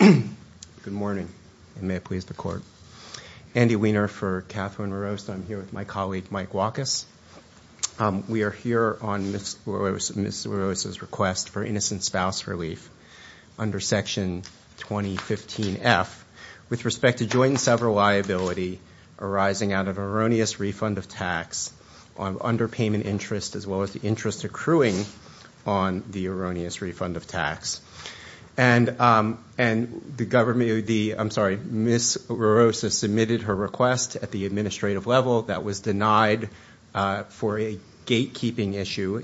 Good morning, and may it please the Court. Andy Wiener for Catherine LaRosa. I'm here with my colleague Mike Walkus. We are here on Ms. LaRosa's request for innocent spouse relief under Section 2015F with respect to joint and several liability arising out of tax underpayment interest as well as the interest accruing on the erroneous refund of tax. Ms. LaRosa submitted her request at the administrative level that was denied for a gatekeeping issue,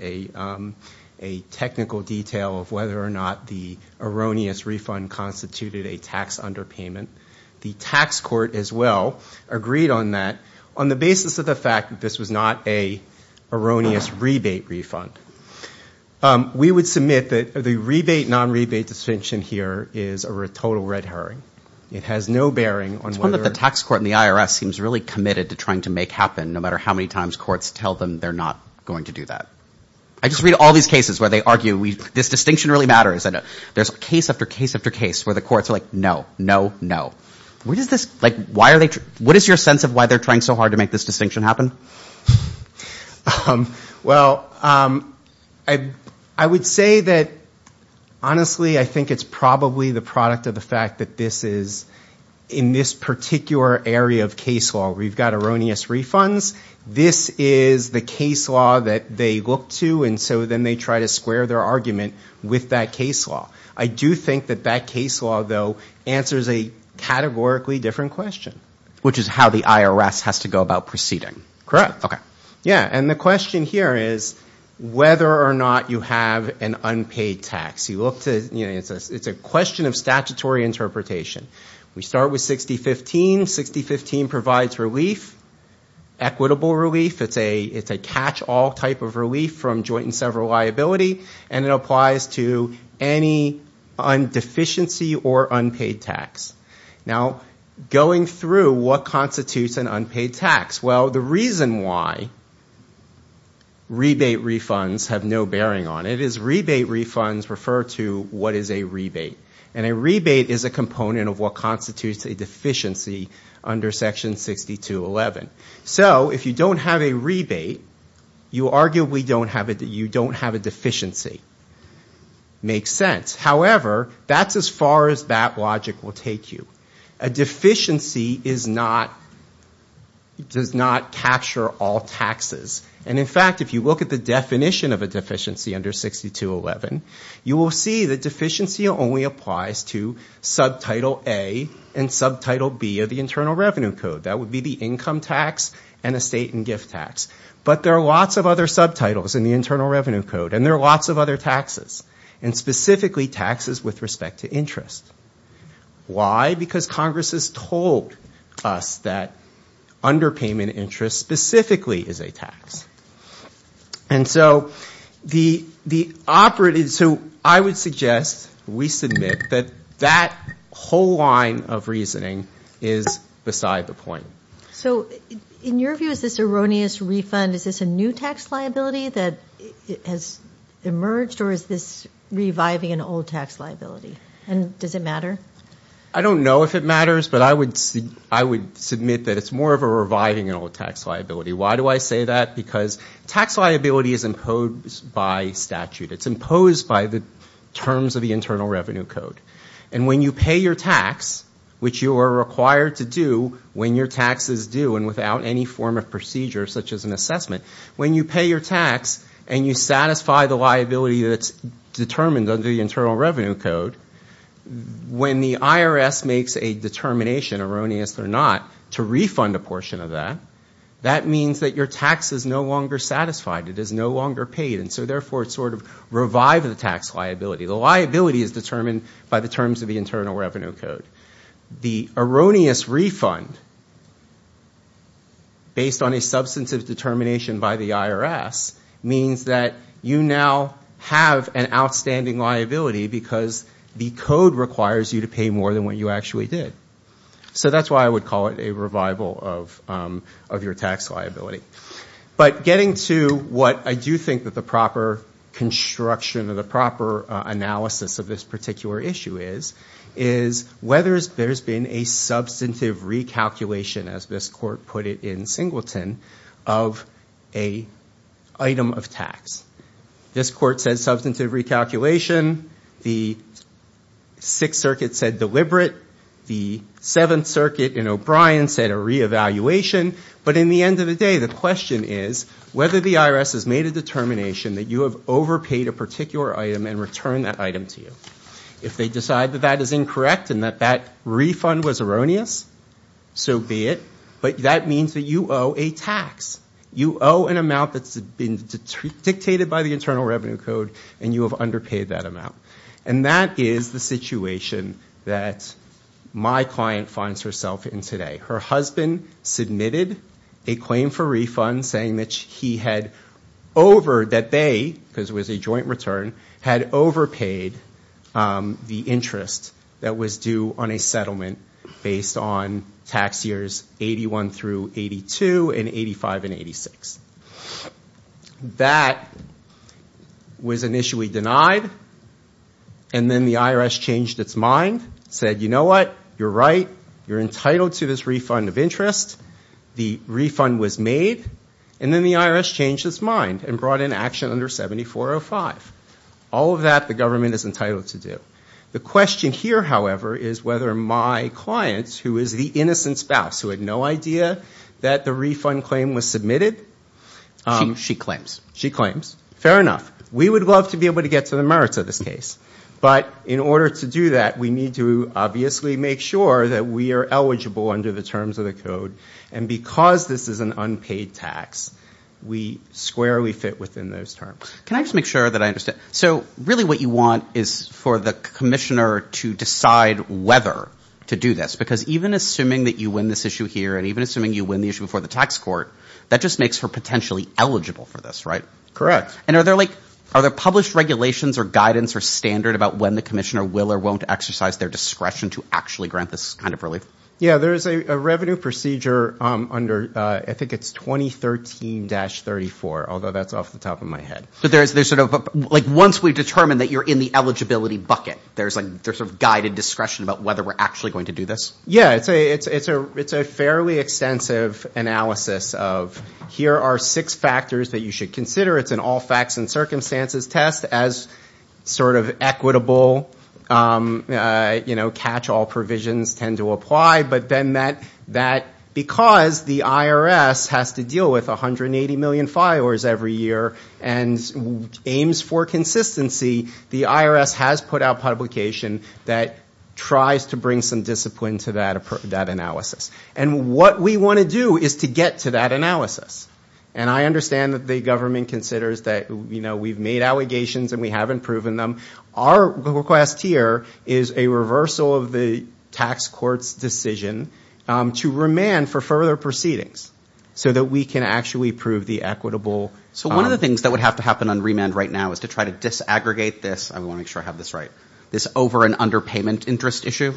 a technical detail of whether or not the erroneous refund constituted a tax underpayment. The tax court, as well, agreed on that on the basis of the fact that this was not an erroneous rebate refund. We would submit that the rebate, non-rebate distinction here is a total red herring. It has no bearing on whether – It's one that the tax court and the IRS seems really committed to trying to make happen no matter how many times courts tell them they're not going to do that. I just read all these cases where they argue this distinction really matters. There's case after case where the courts are like, no, no, no. What is your sense of why they're trying so hard to make this distinction happen? Well, I would say that, honestly, I think it's probably the product of the fact that this is, in this particular area of case law, we've got erroneous refunds. This is the case law that they look to and so then they try to square their argument with that case law. I do think that that case law, though, answers a categorically different question. Which is how the IRS has to go about proceeding. Correct. Okay. Yeah, and the question here is whether or not you have an unpaid tax. It's a question of statutory interpretation. We start with 6015. 6015 provides relief, equitable relief. It's a catch-all type of relief from joint and several liability and it applies to any deficiency or unpaid tax. Now, going through what constitutes an unpaid tax. Well, the reason why rebate refunds have no bearing on it is rebate refunds refer to what is a rebate. A rebate is a component of what constitutes a deficiency under Section 6211. So if you don't have a rebate, you arguably don't have a deficiency. Makes sense. However, that's as far as that logic will take you. A deficiency does not capture all taxes. And in fact, if you look at the definition of a deficiency under 6211, you will see the deficiency only applies to subtitle A and subtitle B of the Internal Revenue Code. That would be the income tax and the state and gift tax. But there are lots of other subtitles in the Internal Revenue Code and there are lots of other taxes. And specifically taxes with respect to interest. Why? Because Congress has told us that underpayment interest specifically is a tax. And so I would suggest we submit that that whole line of reasoning is beside the point. So in your view, is this erroneous refund, is this a new tax liability that has emerged or is this reviving an old tax liability? And does it matter? I don't know if it matters, but I would submit that it's more of a reviving an old tax liability. Why do I say that? Because tax liability is imposed by statute. It's imposed by the terms of the Internal Revenue Code. And when you pay your tax, which you are required to do when your tax is due and without any form of procedure such as an assessment, when you pay your tax and you satisfy the liability that's determined under the Internal Revenue Code, when the IRS makes a determination, erroneous or not, to refund a portion of that, that means that your tax is no longer satisfied. It is no longer paid. And so therefore it's sort of revived the tax liability. The liability is determined by the terms of the Internal Revenue Code. The erroneous refund based on a substantive determination by the IRS means that you now have an outstanding liability because the code requires you to pay more than what you actually did. So that's why I would call it a revival of your tax liability. But getting to what I do think that the proper construction or the proper analysis of this particular issue is, is whether there's been a substantive recalculation, as this court put it in Singleton, of an item of tax. This court said substantive recalculation. The Sixth Circuit said deliberate. The Seventh Circuit in O'Brien said a reevaluation. But in the end of the day, the question is whether the IRS has made a determination that you have overpaid a particular item and returned that item to you. If they decide that that is incorrect and that that refund was erroneous, so be it. But that means that you owe a tax. You owe an amount that's been dictated by the Internal Revenue Code and you have underpaid that amount. And that is the situation that my client finds herself in today. Her husband submitted a claim for refund saying that he had over, that they, because it was a joint return, had overpaid the interest that was due on a settlement based on tax years 81 through 82 and 85 and 86. That was initially denied. And then the IRS changed its mind, said you know what? You're right. You're entitled to this refund of interest. The refund was made. And then the IRS changed its mind and brought in action under 7405. All of that the government is entitled to do. The question here, however, is whether my client, who is the innocent spouse who had no idea that the refund claim was submitted. She claims. She claims. Fair enough. We would love to be able to get to the merits of this case. But in order to do that, we need to obviously make sure that we are eligible under the terms of the code. And because this is an unpaid tax, we squarely fit within those terms. Can I just make sure that I understand? So really what you want is for the commissioner to decide whether to do this. Because even assuming that you win this issue here and even assuming you win the issue before the tax court, that just makes her potentially eligible for this, right? Correct. And are there like, are there published regulations or guidance or standard about when the commissioner will or won't exercise their discretion to actually grant this kind of relief? Yeah, there is a revenue procedure under, I think it's 2013-34, although that's off the top of my head. But there's sort of, like once we've determined that you're in the eligibility bucket, there's like, there's sort of guided discretion about whether we're actually going to do this? Yeah, it's a fairly extensive analysis of here are six factors that you should consider. It's an all facts and circumstances test as sort of equitable, you know, catch all provisions tend to apply, but then that, because the IRS has to deal with 180 million filers every year and aims for consistency, the IRS has put out publication that tries to bring some discipline to that analysis. And what we want to do is to get to that analysis. And I understand that the government considers that we've made allegations and we haven't proven them. Our request here is a reversal of the tax court's decision to remand for further proceedings so that we can actually prove the equitable. So one of the things that would have to happen on remand right now is to try to disaggregate this, I want to make sure I have this right, this over and underpayment interest issue?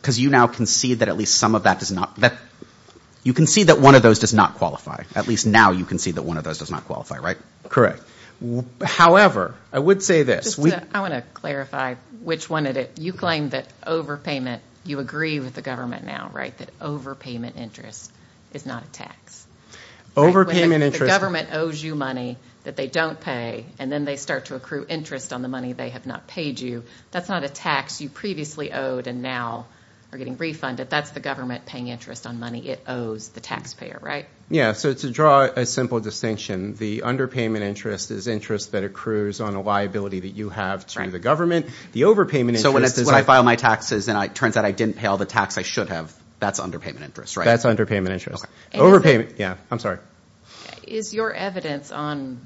Because you now can see that at least some of that does not, you can see that one of those does not qualify. At least now you can see that one of those does not qualify, right? Correct. However, I would say this. I want to clarify which one it is. You claim that overpayment, you agree with the government now, right, that overpayment interest is not a tax? Overpayment interest... The government owes you money that they don't pay, and then they start to accrue interest on the money they have not paid you. That's not a tax you previously owed and now are getting refunded. That's the government paying interest on money it owes the taxpayer, right? Yeah, so to draw a simple distinction, the underpayment interest is interest that accrues on a liability that you have to the government. The overpayment interest... So when I file my taxes and it turns out I didn't pay all the tax I should have, that's underpayment interest, right? That's underpayment interest. Overpayment, yeah, I'm sorry. Is your evidence on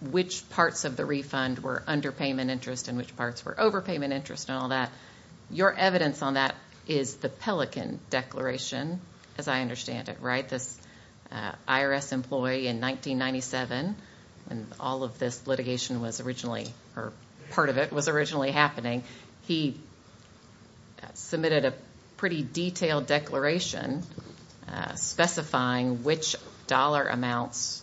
which parts of the refund were underpayment interest and which parts were overpayment interest and all that, your evidence on that is the Pelican Declaration, as I understand it, right? This IRS employee in 1997, when all of this litigation was originally, or part of it was originally happening, he submitted a pretty detailed declaration specifying which dollar amounts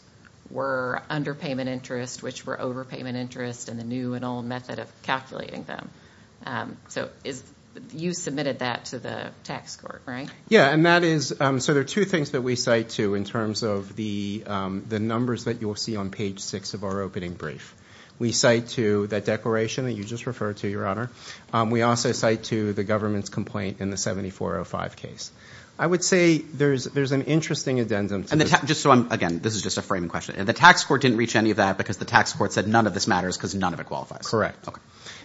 were underpayment interest, which were overpayment interest, and the new and old method of calculating them. So you submitted that to the tax court, right? Yeah, and that is... So there are two things that we cite to in terms of the numbers that you'll see on page six of our opening brief. We cite to that declaration that you just referred to, Your Honor. We also cite to the government's complaint in the 7405 case. I would say there's an interesting addendum to this. Just so I'm... Again, this is just a framing question. The tax court didn't reach any of that because the tax court said none of this matters because none of it qualifies. Correct.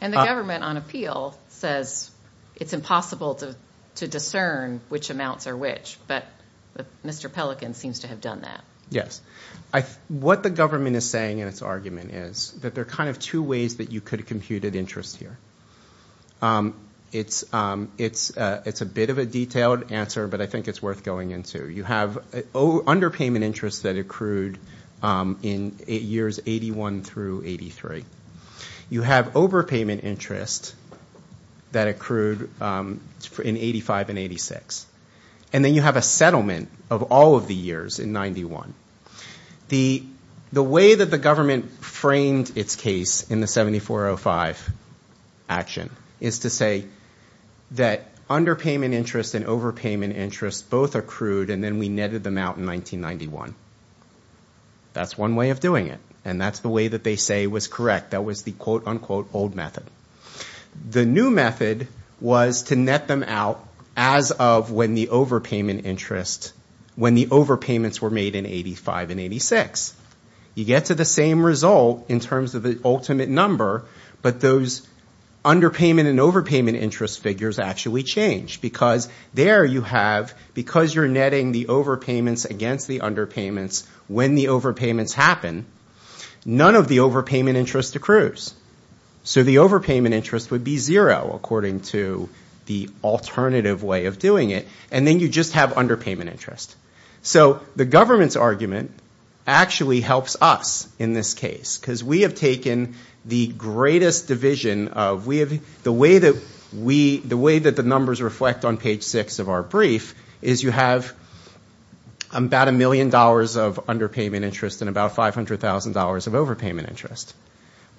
And the government on appeal says it's impossible to discern which amounts are which, but Mr. Pelican seems to have done that. Yes. What the government is saying in its argument is that there are kind of two ways that you could compute an interest here. It's a bit of a detailed answer, but I think it's worth going into. You have underpayment interest that accrued in years 81 through 83. You have overpayment interest that accrued in 85 and 86. And then you have a settlement of all of the years in 91. The way that the government framed its case in the 7405 action is to say that underpayment interest and overpayment interest both accrued and then we netted them out in 1991. That's one way of doing it. And that's the way that they say was correct. That was the quote unquote old method. The new method was to net them out as of when the overpayment interest, when the overpayments were made in 85 and 86. You get to the same result in terms of the ultimate number, but those underpayment and overpayment interest figures actually change because there you have, because you're netting the overpayments against the underpayments when the overpayments happen, none of the overpayment interest accrues. So the overpayment interest would be zero according to the alternative way of doing it. And then you just have underpayment interest. So the government's argument actually helps us in this case because we have taken the greatest division of, the way that the numbers reflect on page 6 of our brief is you have about a million dollars of underpayment interest and about $500,000 of overpayment interest.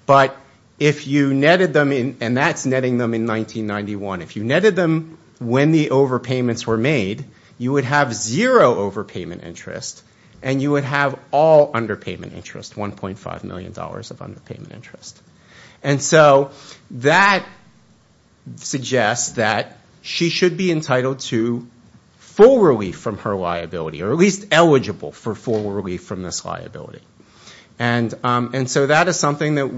But if you netted them, and that's netting them in 1991, if you netted them when the overpayments were made, you would have zero overpayment interest and you would have all underpayment interest, $1.5 million of underpayment interest. And so that suggests that she should be entitled to full relief from her liability, or at least eligible for full relief from this liability. And so that is something that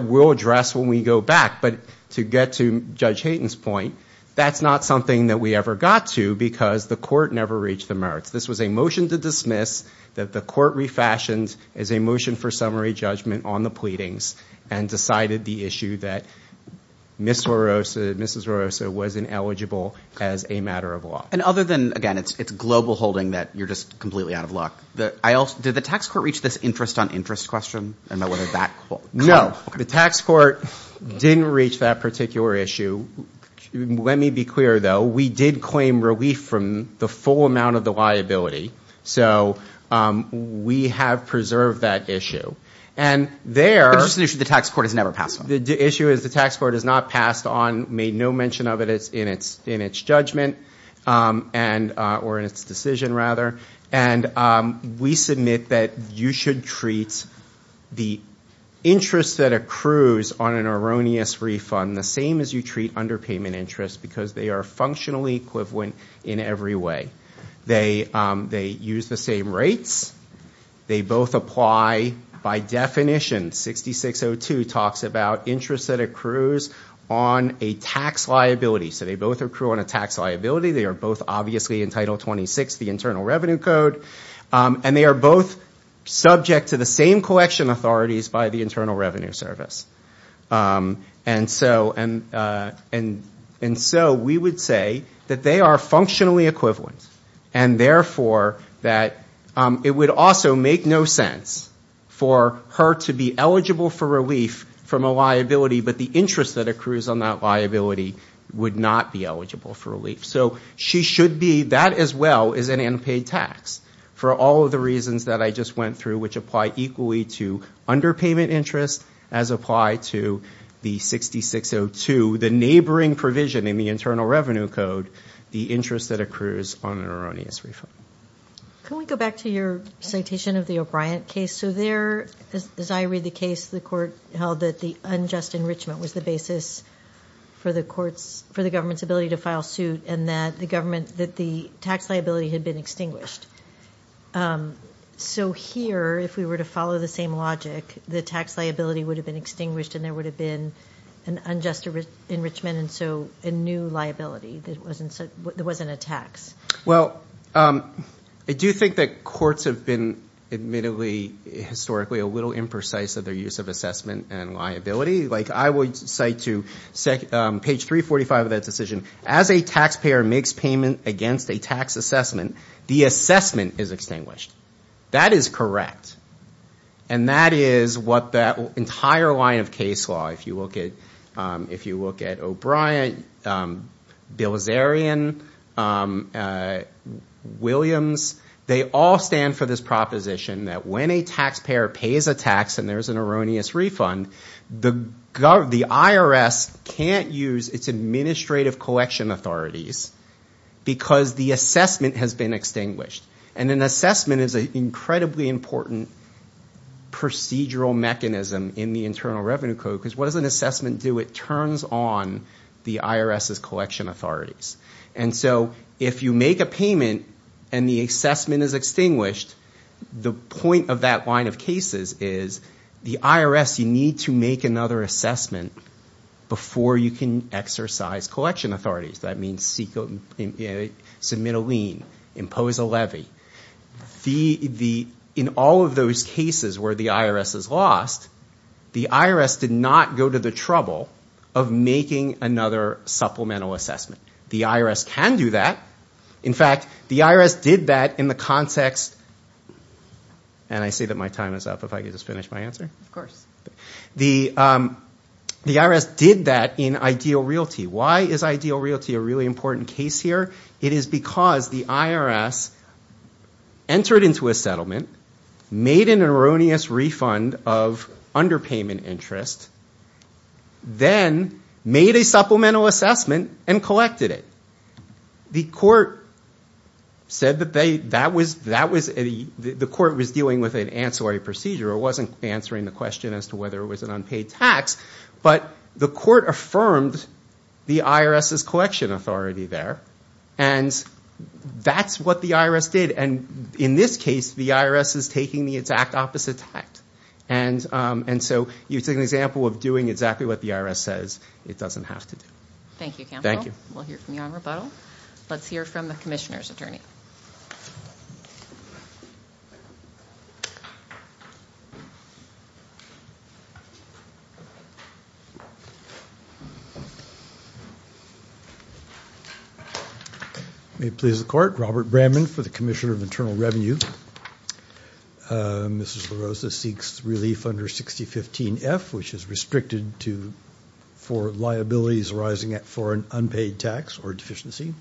we'll address when we go back. But to get to Judge Hayden's point, that's not something that we ever got to because the court never reached the merits. This was a motion to dismiss that the court refashioned as a motion for summary judgment on the pleadings and decided the issue that Mrs. Rosa wasn't eligible as a matter of law. And other than, again, it's global holding that you're just completely out of luck, did the tax court reach this interest-on-interest question, and whether that kind of... No. The tax court didn't reach that particular issue. Let me be clear, though. We did claim relief from the full amount of the liability. So we have preserved that issue. And there... It's just an issue the tax court has never passed on. The issue is the tax court has not passed on, made no mention of it in its judgment or in its decision, rather. And we submit that you should treat the interest that accrues on an erroneous refund the same as you treat underpayment interest because they are functionally equivalent in every way. They use the same rates. They both apply by definition. 6602 talks about interest that accrues on a tax liability. So they both accrue on a tax liability. They are both obviously in Title 26, the Internal Revenue Code. And they are both subject to the same collection authorities by the Internal Revenue Service. And so we would say that they are functionally equivalent, and therefore that it would also make no sense for her to be eligible for relief from a liability, but the interest that accrues on that liability would not be eligible for relief. So she should be. That as well is an unpaid tax for all of the reasons that I just went through, which apply equally to underpayment interest as apply to the 6602, the neighboring provision in the Internal Revenue Code, the interest that accrues on an erroneous refund. Can we go back to your citation of the O'Brien case? So there, as I read the case, the court held that the unjust enrichment was the basis for the government's ability to file suit and that the tax liability had been extinguished. So here, if we were to follow the same logic, the tax liability would have been extinguished and there would have been an unjust enrichment and so a new liability. There wasn't a tax. Well, I do think that courts have been admittedly historically a little imprecise of their use of assessment and liability. Like I would cite to page 345 of that decision, as a taxpayer makes payment against a tax assessment, the assessment is extinguished. That is correct. And that is what that entire line of case law, if you look at O'Brien, Bilzerian, Williams, they all stand for this proposition that when a taxpayer pays a tax and there's an erroneous refund, the IRS can't use its administrative collection authorities because the assessment has been extinguished. And an assessment is an incredibly important procedural mechanism in the Internal Revenue Code because what does an assessment do? It turns on the IRS's collection authorities. And so if you make a payment and the assessment is extinguished, the point of that line of cases is the IRS, you need to make another assessment before you can exercise collection authorities. That means submit a lien, impose a levy. In all of those cases where the IRS is lost, the IRS did not go to the trouble of making another supplemental assessment. The IRS can do that. In fact, the IRS did that in the context, and I see that my time is up. If I could just finish my answer? Of course. The IRS did that in ideal realty. Why is ideal realty a really important case here? It is because the IRS entered into a settlement, made an erroneous refund of underpayment interest, then made a supplemental assessment and collected it. The court was dealing with an ancillary procedure. It wasn't answering the question as to whether it was an unpaid tax, but the court affirmed the IRS's collection authority there. And that's what the IRS did. In this case, the IRS is taking the exact opposite tact. It's an example of doing exactly what the IRS says it doesn't have to do. Thank you, Campbell. We'll hear from you on rebuttal. Let's hear from the commissioner's May it please the court, Robert Bramman for the Commissioner of Internal Revenue. Mrs. La Rosa seeks relief under 6015F, which is restricted for liabilities arising for an unpaid tax or deficiency.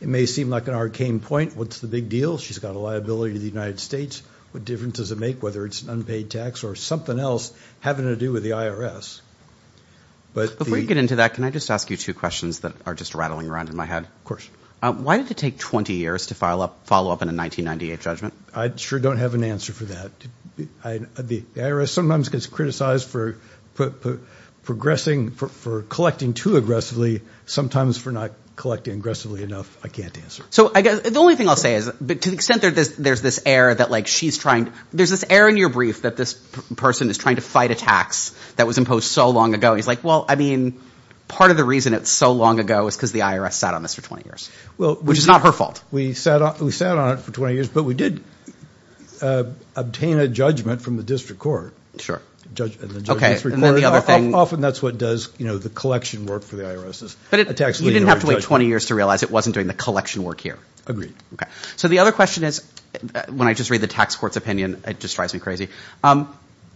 It may seem like an arcane point. What's the big deal? She's got a liability to the United States. What difference does it make whether it's an unpaid tax or something else having to do with the IRS? Before you get into that, can I just ask you two questions that are just rattling around in my head? Of course. Why did it take 20 years to follow up in a 1998 judgment? I sure don't have an answer for that. The IRS sometimes gets criticized for collecting too aggressively, sometimes for not collecting aggressively enough. I can't answer. So I guess the only thing I'll say is, but to the extent that there's this air that she's trying, there's this air in your brief that this person is trying to fight a tax that was imposed so long ago. He's like, well, I mean, part of the reason it's so long ago is because the IRS sat on this for 20 years, which is not her fault. We sat on it for 20 years, but we did obtain a judgment from the district court. Often that's what does the collection work for the IRS. But you didn't have to wait 20 years to realize it wasn't doing the collection work here. Agreed. So the other question is, when I just read the tax court's opinion, it just drives me crazy.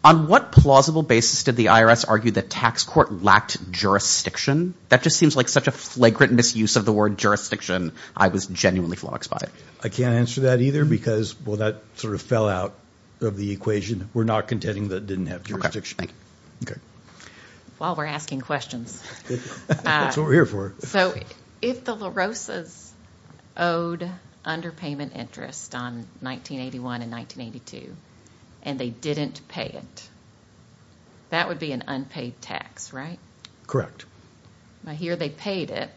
On what plausible basis did the IRS argue that tax court lacked jurisdiction? That just seems like such a flagrant misuse of the word jurisdiction. I was genuinely flogged by it. I can't answer that either because, well, that sort of fell out of the equation. We're not contending that it didn't have jurisdiction. Okay. While we're asking questions. That's what we're here for. So if the La Rosas owed underpayment interest on 1981 and 1982 and they didn't pay it, that would be an unpaid tax, right? Correct. I hear they paid it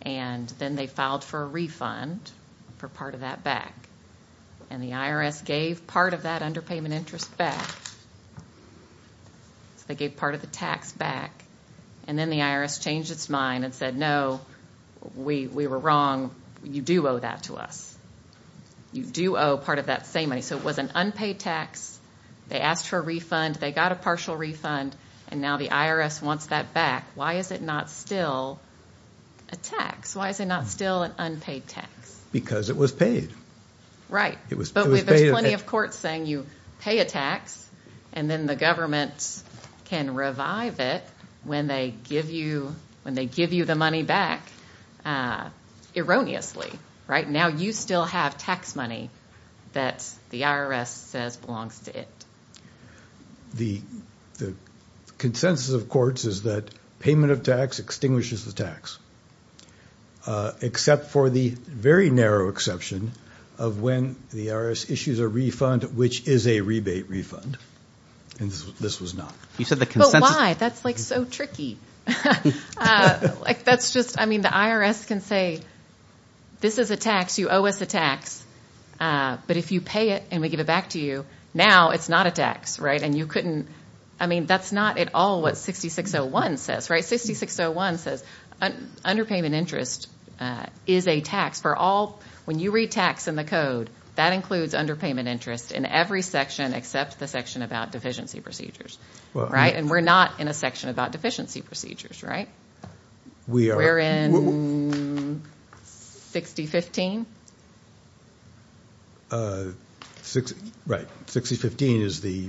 and then they filed for a refund for part of that back. And the IRS gave part of that underpayment interest back. They gave part of the tax back. And then the IRS changed its mind and said, no, we were wrong. You do owe that to us. You do owe part of that same money. So it was an unpaid tax. They asked for a refund. They got a partial refund. And now the IRS wants that back. Why is it not still a tax? Why is it not still an unpaid tax? Because it was paid. Right. But there's plenty of courts saying you pay a tax and then the government can revive it when they give you the money back erroneously, right? Now you still have tax money that the IRS says is a tax to it. The consensus of courts is that payment of tax extinguishes the tax, except for the very narrow exception of when the IRS issues a refund, which is a rebate refund. And this was not. But why? That's like so tricky. That's just, I mean, the IRS can say, this is a tax. You owe us a tax. But if you pay it and we give it back to you, now it's not a tax. Right. And you couldn't. I mean, that's not at all what 6601 says. Right. 6601 says underpayment interest is a tax for all. When you read tax in the code, that includes underpayment interest in every section except the section about deficiency procedures. Right. And we're not in a section about deficiency procedures. Right. We are. We're in 6015. Right. 6015 is the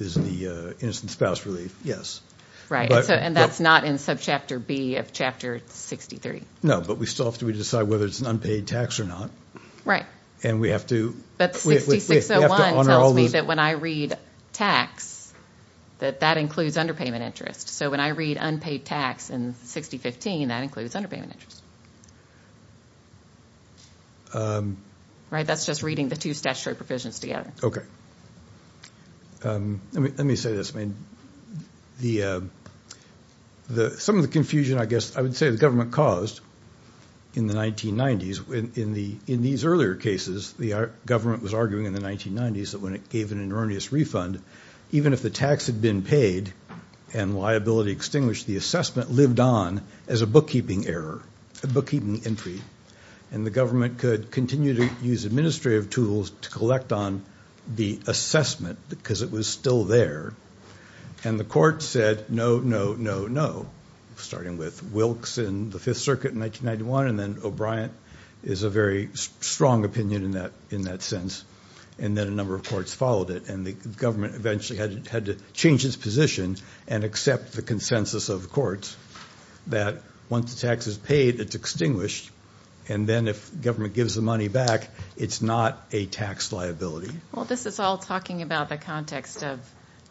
innocent spouse relief. Yes. Right. And that's not in subchapter B of chapter 63. No, but we still have to decide whether it's an underpayment interest. So when I read unpaid tax in 6015, that includes underpayment interest. Right. That's just reading the two statutory provisions together. Okay. Let me say this. I mean, some of the confusion, I guess, I would say the government caused in the 1990s, in these earlier cases, the government was arguing in the 1990s that when it gave an erroneous refund, even if the tax had been paid and liability extinguished, the assessment lived on as a bookkeeping error, a bookkeeping entry. And the government could continue to use administrative tools to collect on the assessment because it was still there. And the court said, no, no, no, no. Starting with Wilkes in the Fifth Circuit, strong opinion in that sense. And then a number of courts followed it. And the government eventually had to change its position and accept the consensus of the courts that once the tax is paid, it's extinguished. And then if government gives the money back, it's not a tax liability. Well, this is all talking about the context of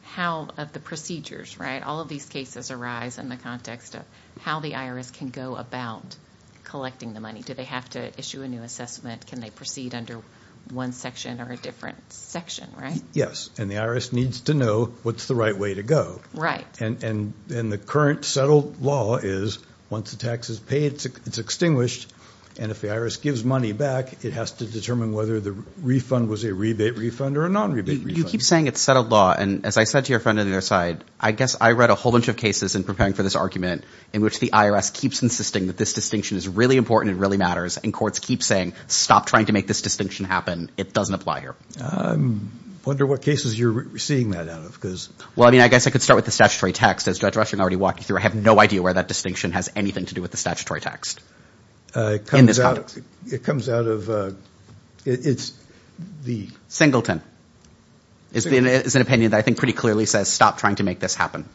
how the procedures, right, all of these cases arise in the context of how the IRS can go about collecting the money. Do they have to issue a new assessment? Can they proceed under one section or a different section, right? Yes. And the IRS needs to know what's the right way to go. Right. And the current settled law is once the tax is paid, it's extinguished. And if the IRS gives money back, it has to determine whether the refund was a rebate refund or a non-rebate refund. You keep saying it's settled law. And as I said to your friend on the other side, I guess I read a whole bunch of cases in preparing for this argument in which the IRS keeps insisting that this distinction is really important and really matters. And courts keep saying, stop trying to make this distinction happen. It doesn't apply here. I wonder what cases you're seeing that out of because... Well, I mean, I guess I could start with the statutory text. As Judge Rushing already walked you through, I have no idea where that distinction has anything to do with the statutory text in this context. It comes out of, it's the... Singleton is an opinion that I think pretty clearly says, stop trying to make this happen.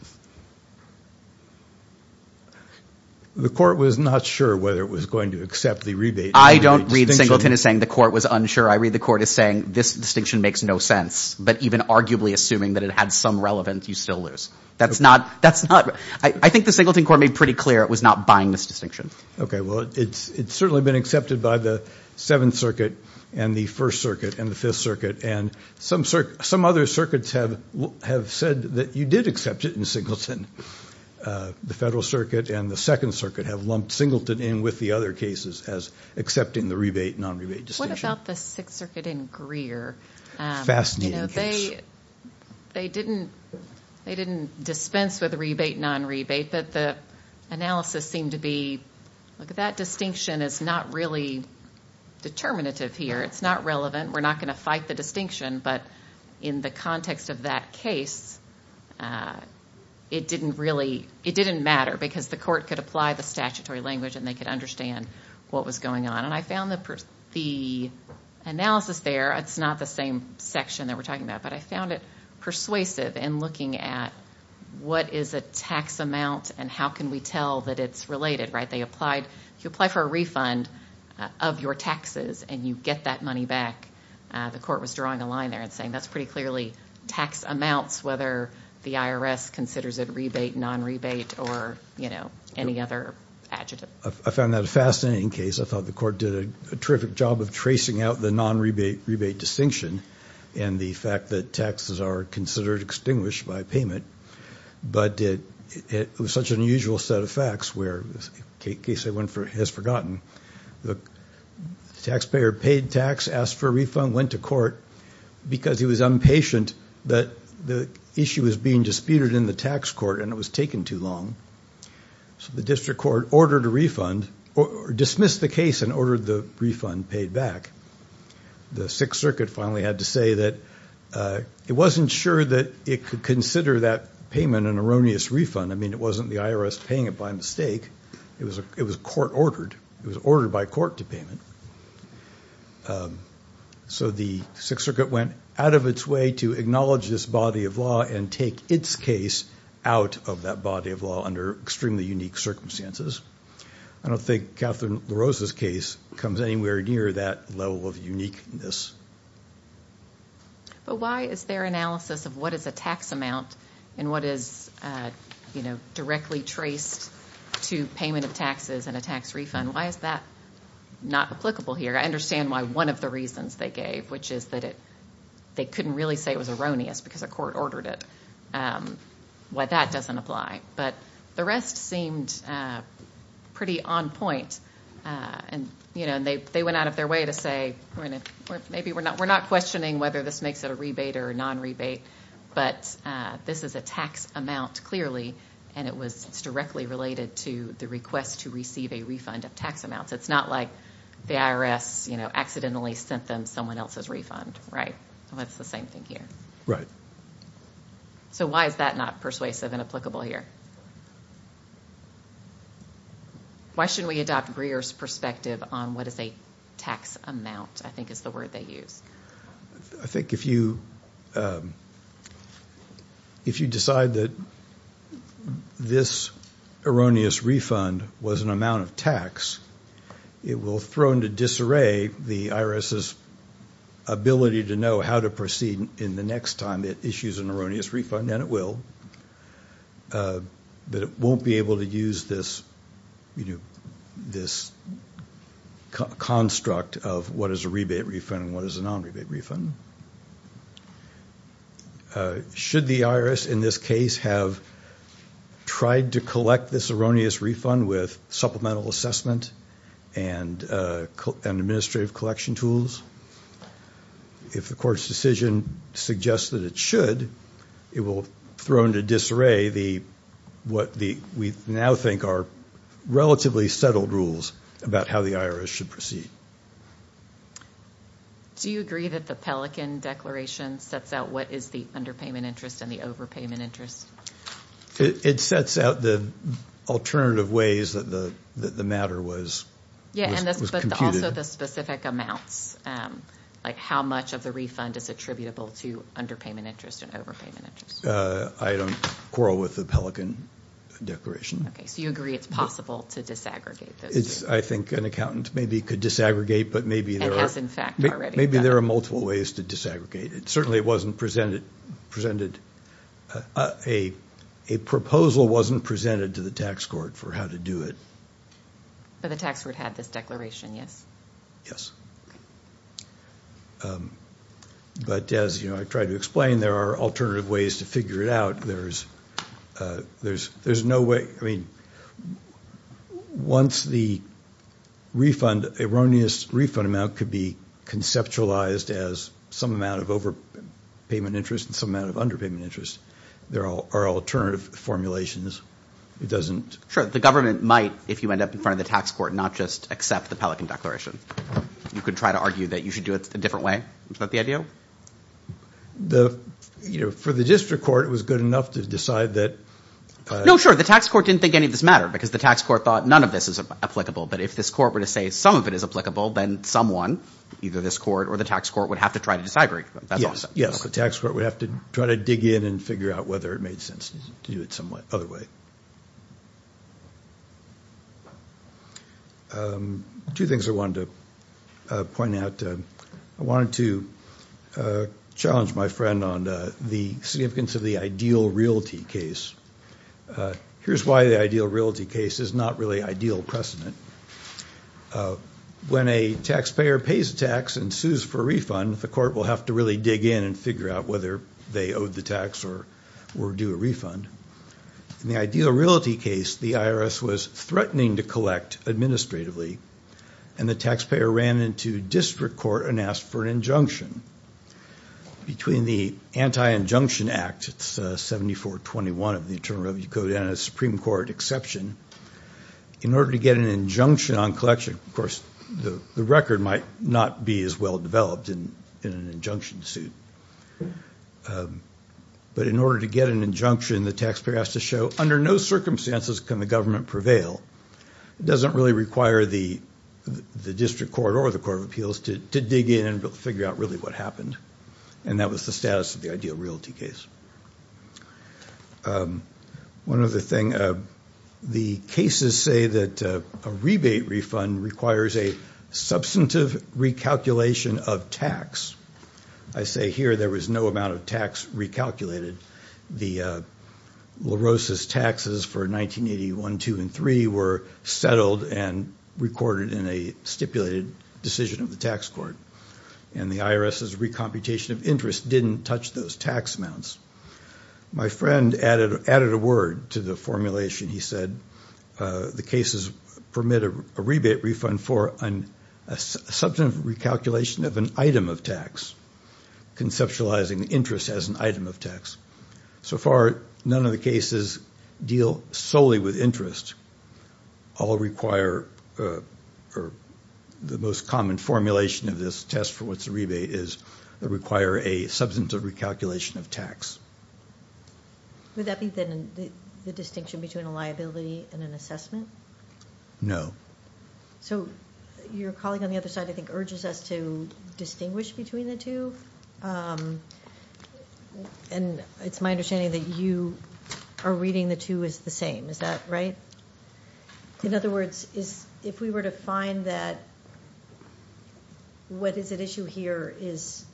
The court was not sure whether it was going to accept the rebate... I don't read Singleton as saying the court was unsure. I read the court as saying, this distinction makes no sense. But even arguably assuming that it had some relevance, you still lose. That's not, that's not... I think the Singleton court made pretty clear it was not buying this distinction. Okay, well, it's certainly been accepted by the Seventh Circuit and the First Circuit and the Fifth Circuit. And some other circuits have said that you did accept it in Singleton. The Federal Circuit and the Second Circuit have lumped Singleton in with the other cases as accepting the rebate, non-rebate distinction. What about the Sixth Circuit and Greer? Fascinating case. They didn't dispense with rebate, non-rebate. But the analysis seemed to be, look, that distinction is not really determinative here. It's not relevant. We're not going to fight the distinction. But in the context of that case, it didn't really, it didn't matter because the court could apply the statutory language and they could understand what was going on. And I found the analysis there, it's not the same section that we're talking about, but I found it persuasive in looking at what is a tax amount and how can we tell that it's related, right? They applied, you apply for a refund of your taxes and you get that money back. The court was drawing a line there and saying that's pretty clearly tax amounts, whether the IRS considers it rebate, non-rebate, or, you know, any other adjective. I found that a fascinating case. I thought the court did a terrific job of tracing out the non-rebate, rebate distinction and the fact that taxes are considered extinguished by payment. But it was such an unusual set of facts where, in case anyone has forgotten, the taxpayer paid tax, asked for a refund, went to court because he was impatient that the issue was being disputed in the tax court and it was taken too long. So the district court ordered a refund, or dismissed the case and ordered the refund paid back. The Sixth Circuit finally had to say that it wasn't sure that it could consider that payment an erroneous refund. I mean, it wasn't the IRS paying it by mistake, it was court ordered, it was ordered by court to pay it. So the Sixth Circuit went out of its way to acknowledge this body of law and take its case out of that body of law under extremely unique circumstances. I don't think Catherine LaRose's case comes anywhere near that level of uniqueness. But why is their analysis of what is a tax amount and what is directly traced to payment of taxes and a tax refund, why is that not applicable here? I understand why one of the reasons they gave, which is that they couldn't really say it was erroneous because a court ordered it, why that doesn't apply. But the rest seemed pretty on point and they went out of their way to say, we're not questioning whether this makes it a rebate or a non-rebate, but this is a tax amount clearly and it's directly related to the request to receive a refund of tax amounts. It's not like the IRS accidentally sent them someone else's refund, right? It's the same thing here. Right. So why is that not persuasive and applicable here? Why shouldn't we adopt Greer's perspective on what is a tax amount, I think is the word they use. I think if you decide that this erroneous refund was an amount of tax, it will throw into disarray the IRS's ability to know how to proceed in the next time it issues an erroneous refund, and it will. But it won't be able to use this construct of what is a rebate refund and what is a non-rebate refund. Should the IRS in this case have tried to collect this erroneous refund with supplemental assessment and administrative collection tools? If the court's decision suggests that it should, it will throw into disarray what we now think are relatively settled rules about how the IRS should proceed. Do you agree that the Pelican Declaration sets out what is the underpayment interest and the overpayment interest? It sets out the alternative ways that the matter was computed. Yeah, but also the specific amounts, like how much of the refund is attributable to underpayment interest and overpayment interest? I don't quarrel with the Pelican Declaration. Okay, so you agree it's possible to disaggregate those? I think an accountant maybe could disaggregate, but maybe there are multiple ways to disaggregate. Certainly, a proposal wasn't presented to the tax court for how to do it. But the tax court had this declaration, yes? Yes, but as I tried to explain, there are alternative ways to figure it out. There's no way. I mean, once the refund, erroneous refund amount could be conceptualized as some amount of overpayment interest and some amount of underpayment interest, there are alternative formulations. Sure, the government might, if you end up in front of the tax court, not just accept the Pelican Declaration. You could try to argue that you should do it a different way. Is that the idea? For the district court, it was good enough to decide that... No, sure, the tax court didn't think any of this mattered because the tax court thought none of this is applicable. But if this court were to say some of it is applicable, then someone, either this court or the tax court, would have to try to disaggregate. Yes, the tax court would have to try to dig in and figure out whether it made sense to do it some other way. Two things I wanted to point out. I wanted to challenge my friend on the significance of the ideal realty case. Here's why the ideal realty case is not really ideal precedent. When a taxpayer pays a tax and sues for a refund, the court will have to really dig in and figure out whether they owe the tax or do a refund. In the ideal realty case, the IRS was threatening to collect administratively, and the taxpayer ran into district court and asked for an injunction. Between the Anti-Injunction Act, it's 7421 of the Internal Revenue Code and a Supreme Court exception, in order to get an injunction on collection. Of course, the record might not be as well developed in an injunction suit. But in order to get an injunction, the taxpayer has to show under no circumstances can the government prevail. It doesn't really require the district court or the court of appeals to dig in and figure out really what happened. And that was the status of the ideal realty case. One other thing. The cases say that a rebate refund requires a substantive recalculation of tax. I say here there was no amount of tax recalculated. The LaRosa's taxes for 1981, 2, and 3 were settled and recorded in a stipulated decision of the tax court. And the IRS's recomputation of interest didn't touch those tax amounts. My friend added a word to the formulation. He said the cases permit a rebate refund for a substantive recalculation of an item of tax, conceptualizing interest as an item of tax. So far, none of the cases deal solely with interest. All require the most common formulation of this test for what a rebate is. They require a substantive recalculation of tax. Would that be the distinction between a liability and an assessment? No. So your colleague on the other side, I think, urges us to distinguish between the two. And it's my understanding that you are reading the two as the same. Is that right? In other words, if we were to find that what is at issue here is,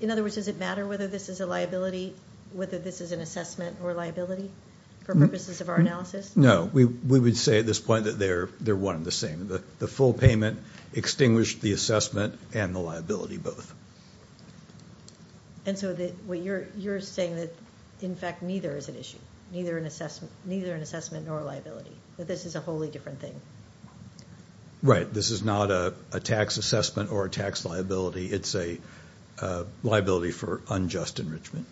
In other words, does it matter whether this is a liability, whether this is an assessment or a liability for purposes of our analysis? No. We would say at this point that they're one and the same. The full payment extinguished the assessment and the liability both. And so you're saying that, in fact, neither is at issue. Neither an assessment nor a liability. But this is a wholly different thing. Right. This is not a tax assessment or a tax liability. It's a liability for unjust enrichment.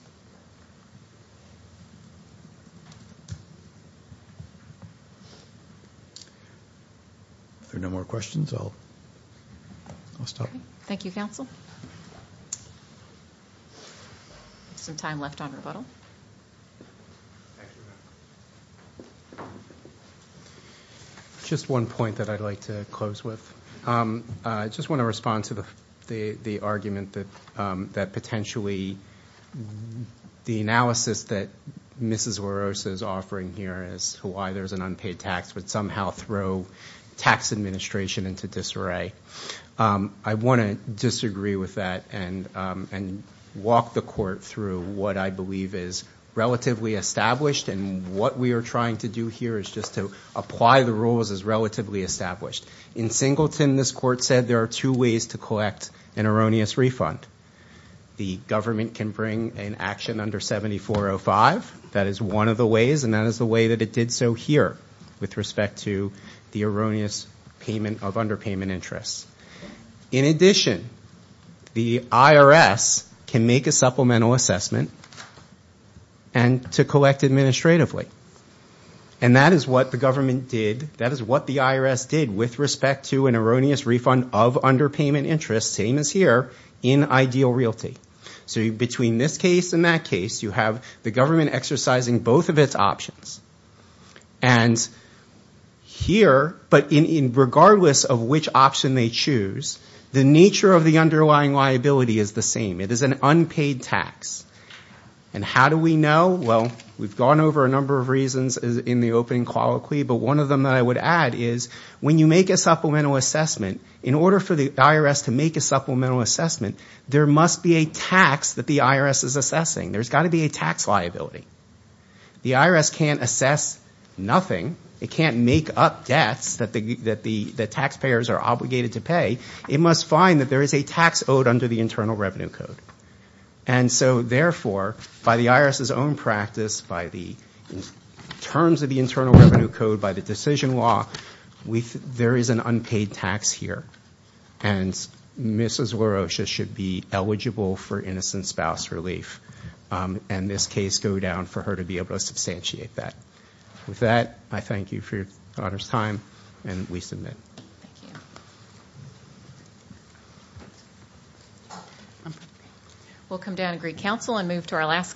If there are no more questions, I'll stop. Thank you, counsel. Some time left on rebuttal. Just one point that I'd like to close with. I just want to respond to the argument that potentially the analysis that Mrs. LaRosa is offering here as to why there's an unpaid tax would somehow throw tax administration into disarray. I want to disagree with that and walk the court through what I believe is relatively established. And what we are trying to do here is just to apply the rules as relatively established. In Singleton, this court said there are two ways to collect an erroneous refund. The government can bring an action under 7405. That is one of the ways. And that is the way that it did so here with respect to the erroneous payment of underpayment interest. In addition, the IRS can make a supplemental assessment and to collect administratively. And that is what the government did. That is what the IRS did with respect to an erroneous refund of underpayment interest, which is the same as here, in ideal realty. So between this case and that case, you have the government exercising both of its options. And here, regardless of which option they choose, the nature of the underlying liability is the same. It is an unpaid tax. And how do we know? Well, we have gone over a number of reasons in the opening colloquy, but one of them that I would add is, when you make a supplemental assessment, in order for the IRS to make a supplemental assessment, there must be a tax that the IRS is assessing. There has got to be a tax liability. The IRS can't assess nothing. It can't make up debts that the taxpayers are obligated to pay. It must find that there is a tax owed under the Internal Revenue Code. And so, therefore, by the IRS's own practice, by the terms of the Internal Revenue Code, by the decision law, there is an unpaid tax here. And Mrs. LaRoche should be eligible for innocent spouse relief. And this case go down for her to be able to substantiate that. With that, I thank you for your time, and we submit. We'll come down and greet counsel and move to our last case.